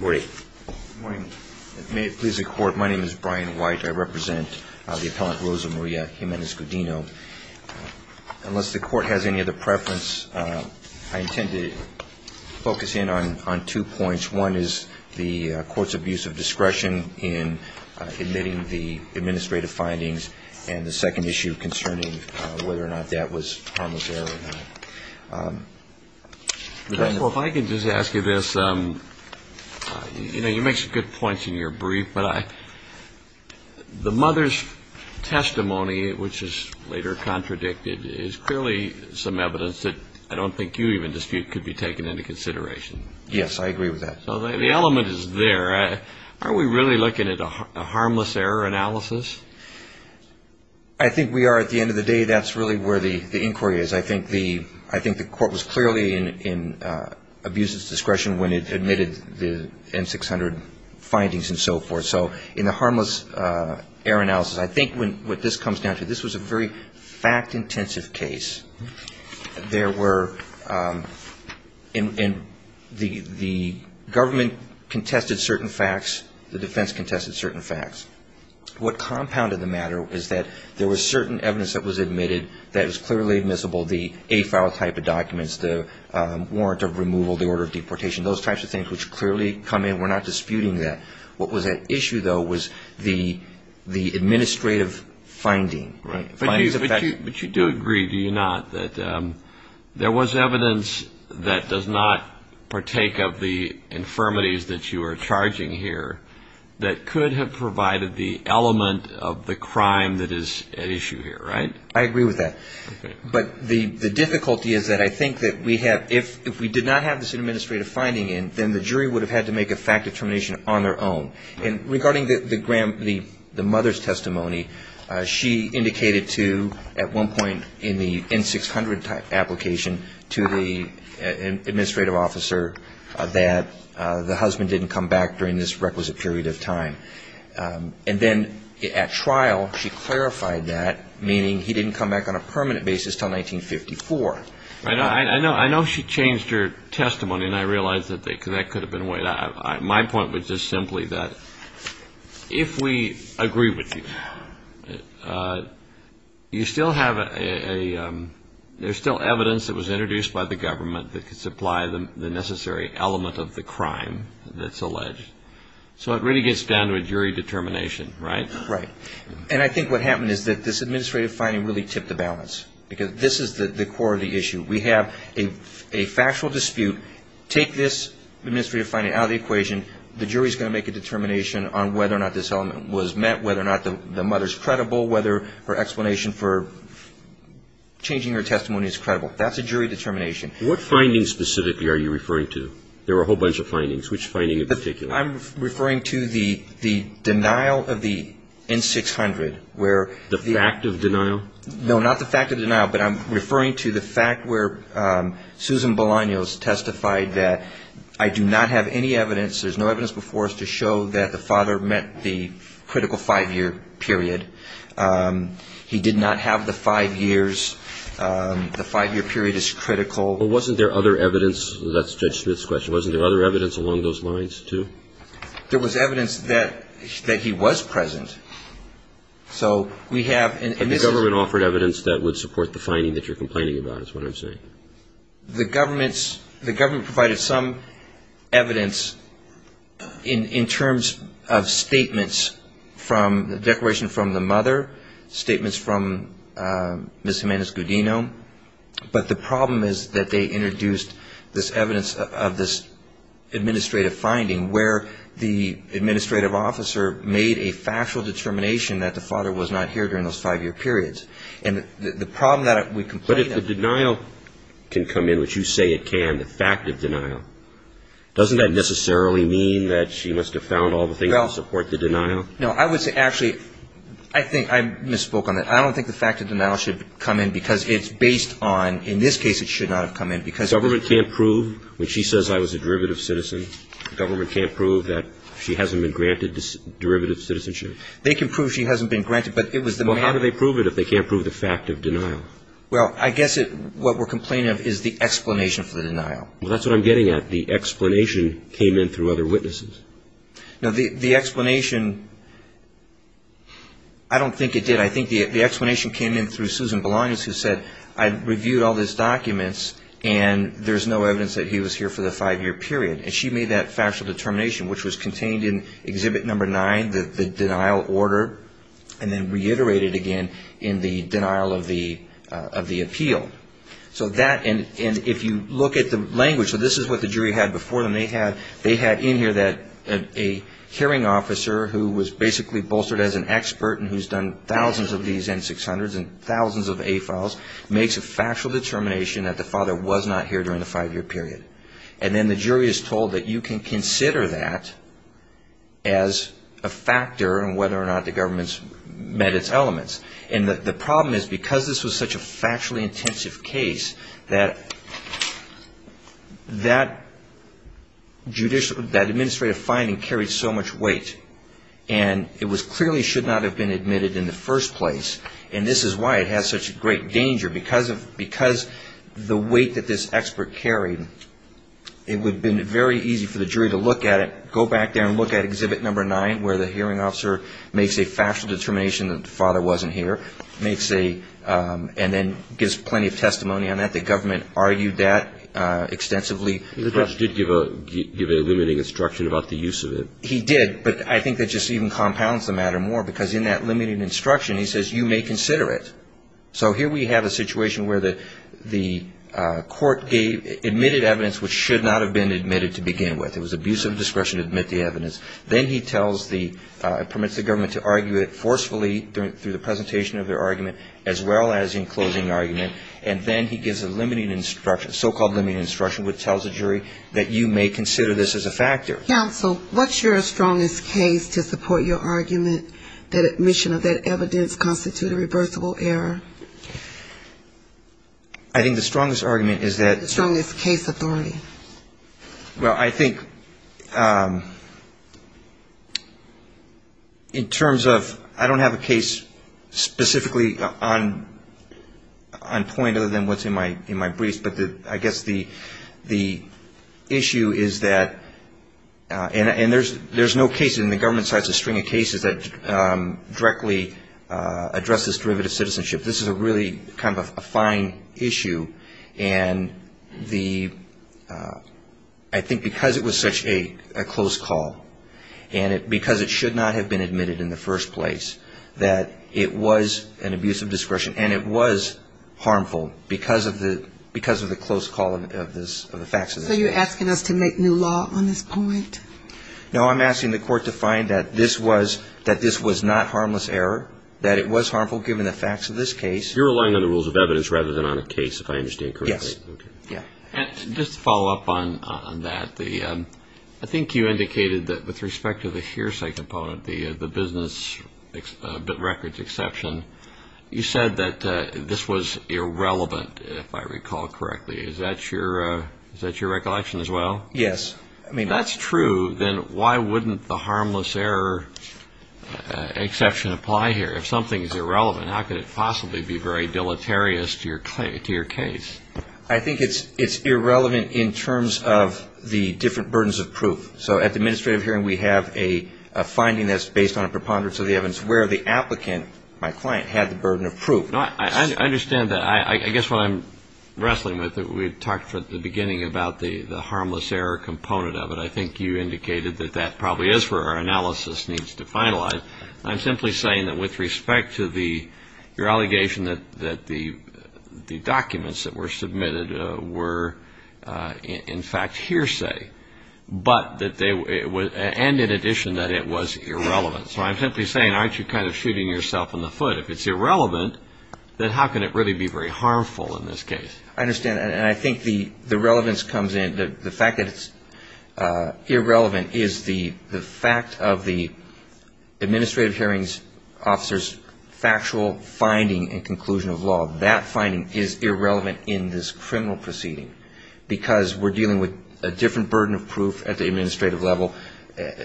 Good morning. May it please the Court, my name is Brian White. I represent the appellant Rosa Maria Jimenez-Gudino. Unless the Court has any other preference, I intend to focus in on two points. One is the Court's abuse of discretion in admitting the administrative findings, and the second issue concerning whether or not that was harmless error or not. Well, if I can just ask you this, you know, you make some good points in your brief, but the mother's testimony, which is later contradicted, is clearly some evidence that I don't think you even dispute could be taken into consideration. Yes, I agree with that. So the element is there. Are we really looking at a harmless error analysis? I think we are at the end of the day. I think that's really where the inquiry is. I think the Court was clearly in abuse of discretion when it admitted the N-600 findings and so forth. So in the harmless error analysis, I think what this comes down to, this was a very fact-intensive case. The government contested certain facts, the defense contested certain facts. What compounded the matter is that there was certain evidence that was admitted that was clearly admissible, the A-file type of documents, the warrant of removal, the order of deportation, those types of things which clearly come in. We're not disputing that. What was at issue, though, was the administrative finding. But you do agree, do you not, that there was evidence that does not partake of the infirmities that you are charging here that could have provided the issue here, right? I agree with that. But the difficulty is that I think that if we did not have this administrative finding in, then the jury would have had to make a fact determination on their own. And regarding the mother's testimony, she indicated to, at one point in the N-600 application, to the administrative officer that the husband didn't come back during this requisite period of time. And then at trial, she clarified that, meaning he didn't come back on a permanent basis until 1954. I know she changed her testimony, and I realize that that could have been weighed out. My point was just simply that if we agree with you, you still have a, there's still evidence that was introduced by the government that could supply the necessary element of the crime that's alleged. So it really is down to a jury determination, right? Right. And I think what happened is that this administrative finding really tipped the balance. Because this is the core of the issue. We have a factual dispute. Take this administrative finding out of the equation. The jury's going to make a determination on whether or not this element was met, whether or not the mother's credible, whether her explanation for changing her testimony is credible. That's a jury determination. What findings specifically are you referring to? There were a whole bunch of findings. Which finding in particular? I'm referring to the denial of the N-600, where the The fact of denial? No, not the fact of denial, but I'm referring to the fact where Susan Bolaños testified that I do not have any evidence, there's no evidence before us to show that the father met the critical five-year period. He did not have the five years. The five-year period is critical. But wasn't there other evidence, that's Judge Smith's question, wasn't there other evidence along those lines, too? There was evidence that he was present. So we have And the government offered evidence that would support the finding that you're complaining about, is what I'm saying. The government provided some evidence in terms of statements from the declaration from the mother, statements from Ms. Jimenez-Gudino, but the problem is that they introduced this evidence of this administrative finding where the administrative officer made a factual determination that the father was not here during those five-year periods. And the problem that we complain about But if the denial can come in, which you say it can, the fact of denial, doesn't that necessarily mean that she must have found all the things to support the denial? No, I would say actually, I think I misspoke on that. I don't think the fact of denial should come in because it's based on, in this case it should not have come in because The government can't prove, when she says I was a derivative citizen, the government can't prove that she hasn't been granted derivative citizenship? They can prove she hasn't been granted, but it was the man Well, how do they prove it if they can't prove the fact of denial? Well, I guess what we're complaining of is the explanation for the denial. Well, that's what I'm getting at. The explanation came in through other witnesses. No, the explanation, I don't think it did. I think the explanation came in through Susan Boulogne, who said I reviewed all these documents and there's no evidence that he was here for the five-year period. And she made that factual determination, which was contained in Exhibit No. 9, the denial order, and then reiterated again in the denial of the appeal. So that, and if you look at the language, so this is what the jury had before them. They had in here a hearing officer who was basically bolstered as an expert and who's done thousands of these N-600s and thousands of A-files, makes a factual determination that the father was not here during the five-year period. And then the jury is told that you can consider that as a factor in whether or not the government's met its elements. And the problem is, because this was such a factually intensive case, that that judicial, that administrative finding carried so much weight. And it was clearly should not have been admitted in the first place. And this is why it has such great danger. Because of, because the weight that this expert carried, it would have been very easy for the jury to look at it, go back there and look at Exhibit No. 9, where the hearing officer makes a factual determination that the father wasn't here, makes a, and then gives plenty of testimony on that. The government argued that extensively. The judge did give a, give a limiting instruction about the use of it. He did. But I think that just even compounds the matter more. Because in that limiting instruction, he says, you may consider it. So here we have a situation where the, the court gave, admitted evidence which should not have been admitted to begin with. It was abuse of discretion to admit the evidence. Then he tells the, permits the government to argue it forcefully during, through the presentation of their argument, as well as in closing the argument. And then he gives a limiting instruction, so-called limiting instruction, which tells the jury that you may consider this as a factor. Counsel, what's your strongest case to support your argument that admission of that evidence constitute a reversible error? I think the strongest argument is that- The strongest case authority. Well, I think, in terms of, I don't have a case specifically on, on point other than what's in my, in my briefs. But the, I guess the, the issue is that, and, and there's, there's no case in the government side that's a string of cases that directly address this derivative citizenship. This is a really kind of a fine issue. And the, I think because it was such a, a close call, and it, because it should not have been admitted in the first place, that it was an abuse of discretion. And it was harmful because of the, because of the close call of this, of the facts of this case. So you're asking us to make new law on this point? No, I'm asking the court to find that this was, that this was not harmless error, that it was harmful given the facts of this case. You're relying on the rules of evidence rather than on a case, if I understand correctly. Yes. Yeah. And just to follow up on, on that, the, I think you indicated that with respect to the hearsay component, the, the business bit records exception, you said that this was irrelevant, if I recall correctly. Is that your, is that your recollection as well? Yes. I mean. If that's true, then why wouldn't the harmless error exception apply here? If something's irrelevant, how could it possibly be very deleterious to your, to your case? I think it's, it's irrelevant in terms of the different burdens of proof. So at the administrative hearing, we have a, a finding that's based on a preponderance of the evidence where the applicant, my client, had the burden of proof. No, I, I understand that. I, I guess what I'm wrestling with, we talked at the beginning about the, the harmless error component of it. I think you indicated that that probably is where our analysis needs to finalize. I'm simply saying that with respect to the, your allegation that, that the, the documents that were there, and in addition that it was irrelevant. So I'm simply saying, aren't you kind of shooting yourself in the foot? If it's irrelevant, then how can it really be very harmful in this case? I understand. And I think the, the relevance comes in, the fact that it's irrelevant is the, the fact of the administrative hearings officer's factual finding and conclusion of law. That finding is irrelevant in this criminal proceeding because we're dealing with a different burden of proof at the trial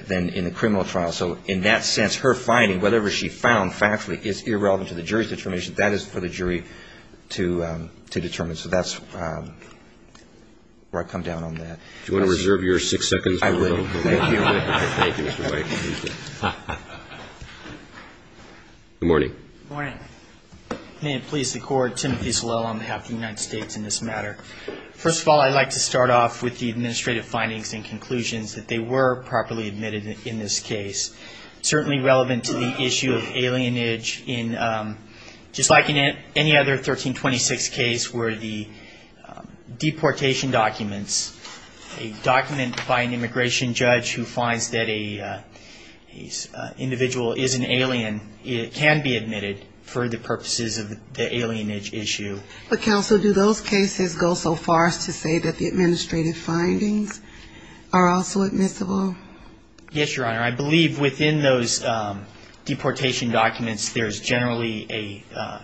than in the criminal trial. So in that sense, her finding, whatever she found factually, is irrelevant to the jury's determination. That is for the jury to, to determine. So that's where I come down on that. Do you want to reserve your six seconds? I will. Thank you. Thank you, Mr. White. Good morning. Good morning. May it please the Court, Timothy Salell on behalf of the United States in this matter. First of all, I'd like to start off with the in this case. Certainly relevant to the issue of alienage in, just like in any other 1326 case where the deportation documents, a document by an immigration judge who finds that a, a individual is an alien, it can be admitted for the purposes of the alienage issue. But counsel, do those cases go so far as to say that the administrative findings are also admissible? Yes, Your Honor. I believe within those deportation documents, there's generally a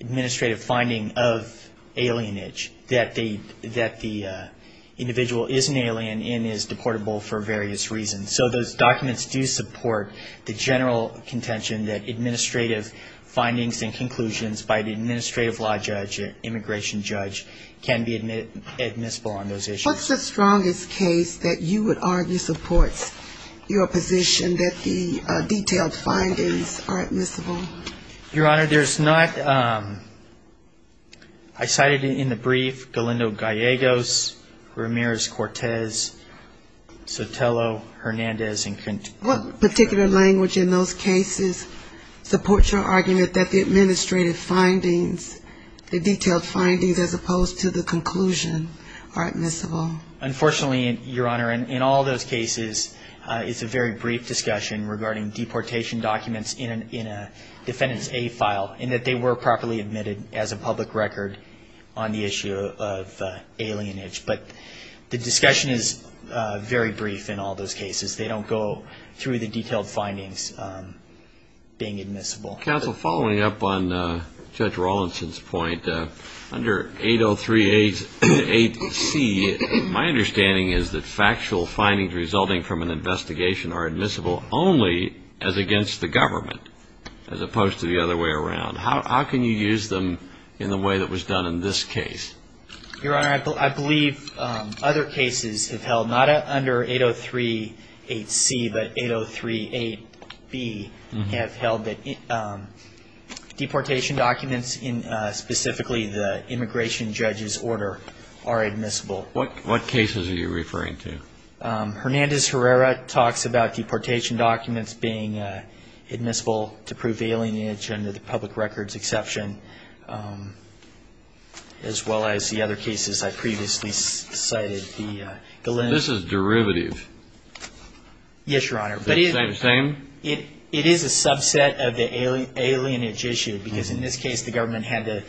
administrative finding of alienage that the, that the individual is an alien and is deportable for various reasons. So those documents do support the general contention that administrative findings and conclusions by the administrative law judge, immigration judge, can be admissible on those issues. What's the strongest case that you would argue supports your position that the detailed findings are admissible? Your Honor, there's not, I cited in the brief Galindo Gallegos, Ramirez Cortez, Sotelo, Hernandez, and Contreras. What particular language in those cases supports your argument that the administrative findings, the detailed findings as opposed to the conclusion are admissible? Unfortunately, Your Honor, in all those cases, it's a very brief discussion regarding deportation documents in a defendant's A file and that they were properly admitted as a public record on the issue of alienage. But the discussion is very brief in all those cases. They don't go through the detailed findings being admissible. Counsel, following up on Judge Rawlinson's point, under 8038C, my understanding is that factual findings resulting from an investigation are admissible only as against the government as opposed to the other way around. How can you use them in the way that was done in this case? Your Honor, I believe other cases have held, not under 8038C, but 8038B have held that deportation documents, specifically the immigration judge's order, are admissible. What cases are you referring to? Hernandez-Herrera talks about deportation documents being admissible to prove alienage under the public records exception, as well as the other cases I previously cited, the Galindo... Yes, Your Honor. Is it the same? It is a subset of the alienage issue, because in this case the government had to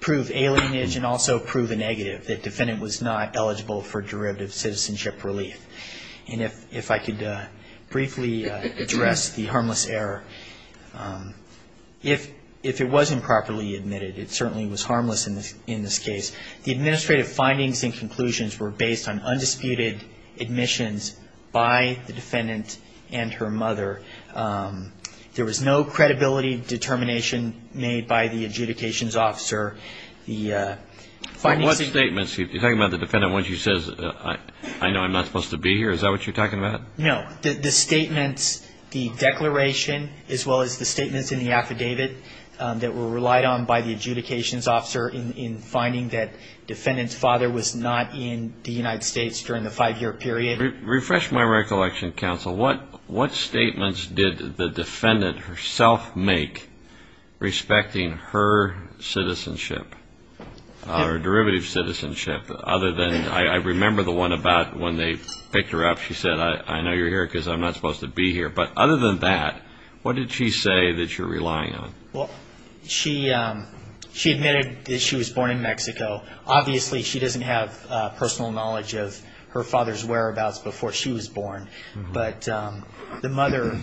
prove alienage and also prove a negative, that defendant was not eligible for derivative citizenship relief. And if I could briefly address the harmless error. If it wasn't properly admitted, it certainly was harmless in this case. The administrative findings and conclusions were based on undisputed admissions by the defendant and her mother. There was no credibility determination made by the adjudications officer. What statements? You're talking about the defendant, once he says, I know I'm not supposed to be here. Is that what you're talking about? No. The statements, the declaration, as well as the statements in the affidavit that were relied on by the adjudications officer in finding that the United States during the five-year period... Refresh my recollection, counsel. What statements did the defendant herself make respecting her citizenship, or derivative citizenship, other than... I remember the one about when they picked her up, she said, I know you're here because I'm not supposed to be here. But other than that, what did she say that you're relying on? Well, she admitted that she was born in Mexico. Obviously, she doesn't have personal knowledge of her father's whereabouts before she was born. But the mother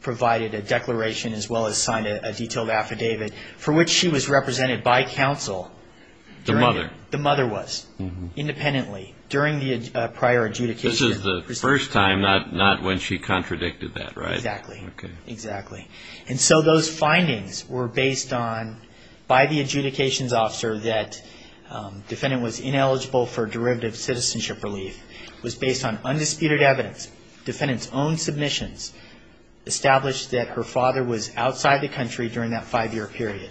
provided a declaration, as well as signed a detailed affidavit, for which she was represented by counsel. The mother? The mother was, independently, during the prior adjudication. This is the first time, not when she contradicted that, right? Exactly. And so those findings were based on, by the adjudications officer, that the defendant was ineligible for derivative citizenship relief. It was based on undisputed evidence. The defendant's own submissions established that her father was outside the country during that five-year period.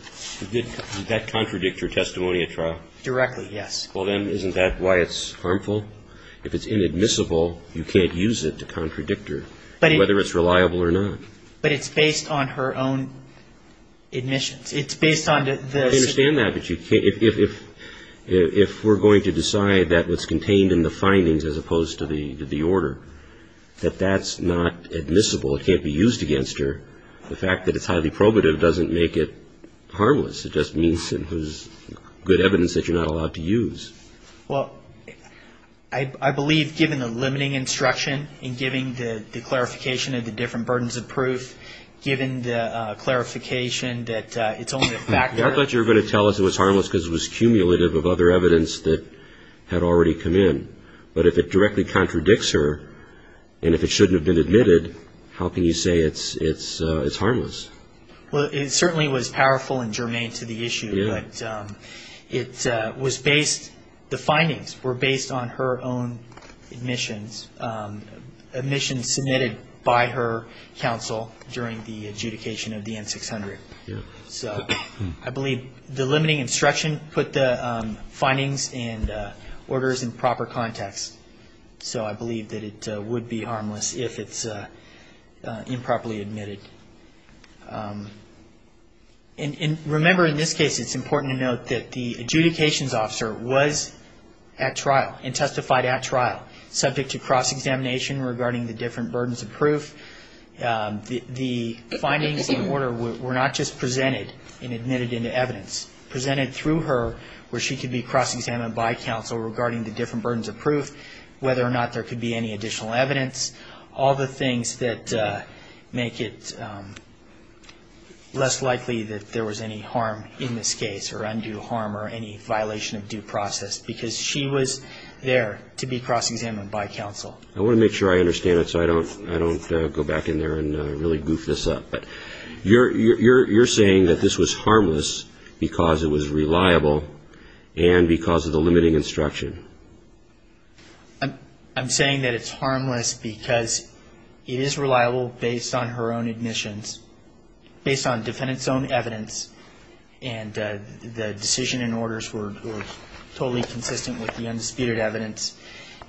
Did that contradict your testimony at trial? Directly, yes. Well, then, isn't that why it's harmful? If it's inadmissible, you can't use it to contradict her, whether it's reliable or not. But it's based on her own admissions. It's based on the... I understand that, but if we're going to decide that what's contained in the findings, as opposed to the order, that that's not admissible, it can't be used against her, the fact that it's highly probative doesn't make it harmless. It just means it was good evidence that you're not allowed to use. Well, I believe, given the limiting instruction, and given the clarification of the different burdens of proof, given the clarification that it's only a fact... I thought you were going to tell us it was harmless because it was cumulative of other evidence that had already come in. But if it directly contradicts her, and if it shouldn't have been admitted, how can you say it's harmless? Well, it certainly was powerful and germane to the issue, but it was based... the findings were based on her own admissions, admissions submitted by her counsel during the adjudication of the N-600. Yeah. So, I believe the limiting instruction put the findings and orders in proper context, so I believe that it would be harmless if it's improperly admitted. And remember, in this case, it's important to note that the adjudications officer was at trial, and testified at trial, subject to cross-examination regarding the different burdens of proof. The findings and order were not just presented and admitted into evidence. Presented through her, where she could be cross-examined by counsel regarding the different burdens of proof, whether or not there could be any additional evidence, all the things that make it less likely that there was any harm in this case, or undue harm, or any violation of due process, because she was there to be cross-examined by counsel. I want to make sure I understand it so I don't go back in there and really goof this up. But you're saying that this was harmless because it was reliable, and because of the limiting instruction. I'm saying that it's harmless because it is reliable based on her own admissions, based on defendant's own evidence, and the decision and orders were totally consistent with the undisputed evidence,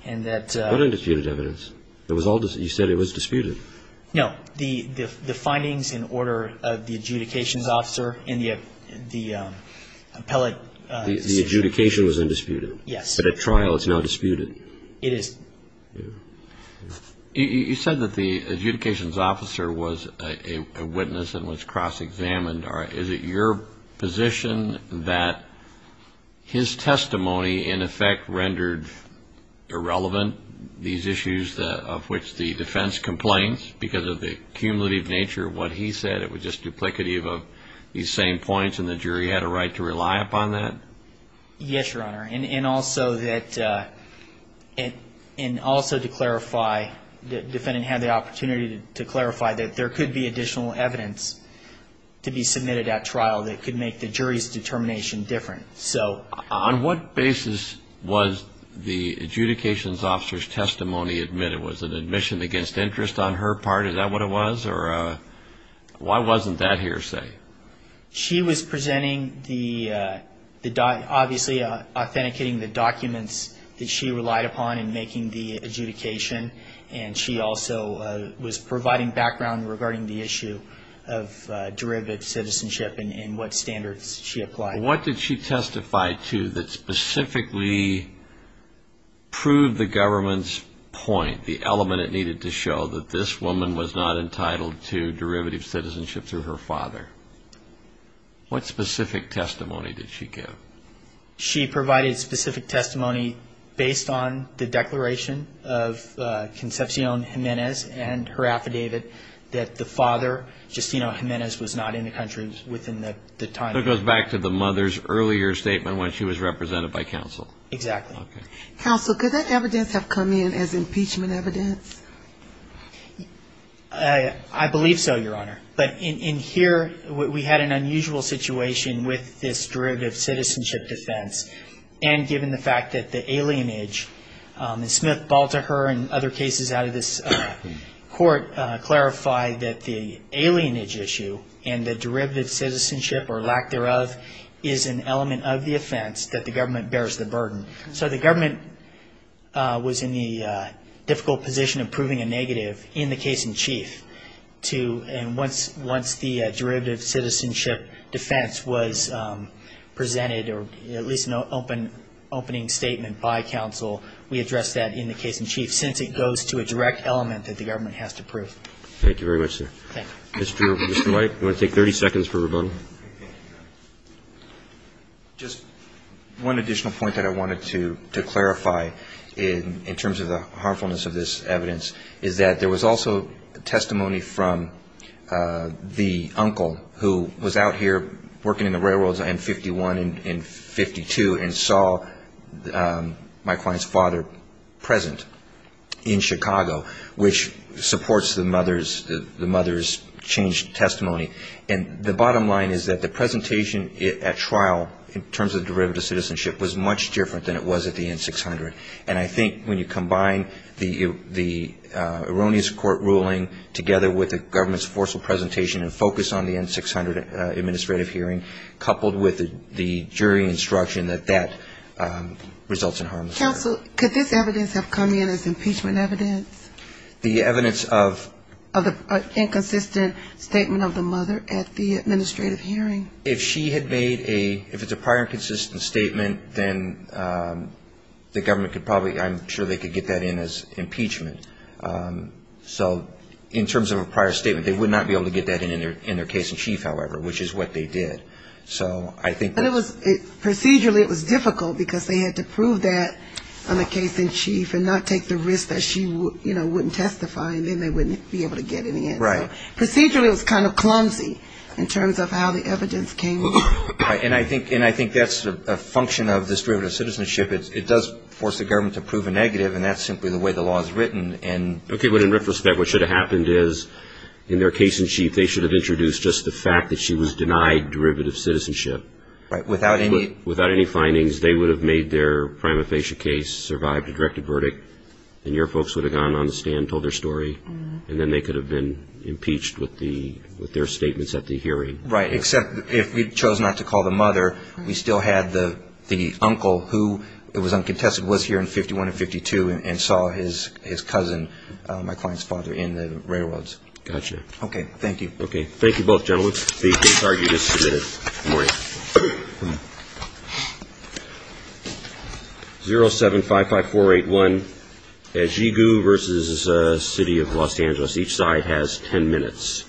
and that... It's not undisputed evidence. It was all, you said it was disputed. No. The findings and order of the adjudications officer and the appellate... The adjudication was undisputed. Yes. But at trial, it's now disputed. It is. You said that the adjudications officer was a witness and was cross-examined. Is it your position that his testimony, in effect, rendered irrelevant? These issues of which the defense complains because of the cumulative nature of what he said, it was just duplicative of these same points, and the jury had a right to rely upon that? Yes, Your Honor. And also that... And also to clarify, the defendant had the opportunity to clarify that there could be additional evidence to be submitted at trial that could make the jury's determination different. So... On what basis was the adjudications officer's testimony admitted? Was it admission against interest on her part? Is that what it was? Or why wasn't that hearsay? She was presenting the... Obviously, authenticating the documents that she relied upon in making the adjudication, and she also was providing background regarding the issue of derivative citizenship and what standards she applied. What did she testify to that specifically proved the government's point, the element it needed to show, that this woman was not entitled to derivative citizenship through her father? What specific testimony did she give? She provided specific testimony based on the declaration of Concepcion Jimenez and her affidavit that the father, Justino Jimenez, was not in the country within the time... That goes back to the mother's earlier statement when she was represented by counsel. Exactly. Counsel, could that evidence have come in as impeachment evidence? I believe so, Your Honor. But in here, we had an unusual situation with this derivative citizenship defense. And given the fact that the alienage, and Smith-Balteker and other cases out of this court clarified that the alienage issue and the derivative citizenship, or lack thereof, is an element of the offense that the government bears the burden. So the government was in the difficult position of proving a negative in the case-in-chief. And once the derivative citizenship defense was presented, or at least an opening statement by counsel, we addressed that in the case-in-chief, since it goes to a direct element that the government has to prove. Thank you very much, sir. Mr. White, you want to take 30 seconds for rebuttal. Just one additional point that I wanted to clarify in terms of the harmfulness of this evidence is that there was also testimony from the uncle who was out here working in the railroads in 51 and 52 and saw my client's father present in Chicago, which supports the mother's changed testimony. And the bottom line is that the presentation at trial in terms of derivative citizenship was much different than it was at the N-600. And I think when you combine the erroneous court ruling together with the government's forceful presentation and focus on the N-600 administrative hearing, coupled with the jury instruction, that that results in harmlessness. Counsel, could this evidence have come in as impeachment evidence? The evidence of? Of the inconsistent statement of the mother at the administrative hearing. If she had made a, if it's a prior consistent statement, then the government could probably, I'm sure they could get that in as impeachment. So in terms of a prior statement, they would not be able to get that in their case-in-chief, however, which is what they did. So I think that's... On the case-in-chief and not take the risk that she, you know, wouldn't testify, and then they wouldn't be able to get any in. Right. Procedurally, it was kind of clumsy in terms of how the evidence came in. And I think that's a function of this derivative citizenship. It does force the government to prove a negative, and that's simply the way the law is written. And... Okay. But in retrospect, what should have happened is in their case-in- chief, they should have introduced just the fact that she was denied derivative citizenship. Right. Without any... If the case survived a directed verdict, then your folks would have gone on the stand, told their story, and then they could have been impeached with their statements at the hearing. Right. Except if we chose not to call the mother, we still had the uncle who, it was uncontested, was here in 51 and 52, and saw his cousin, my client's father, in the railroads. Gotcha. Okay. Thank you. Okay. Thank you both, gentlemen. The case argument is submitted. Good morning. 0755481, Ejigu versus City of Los Angeles. Each side has 10 minutes.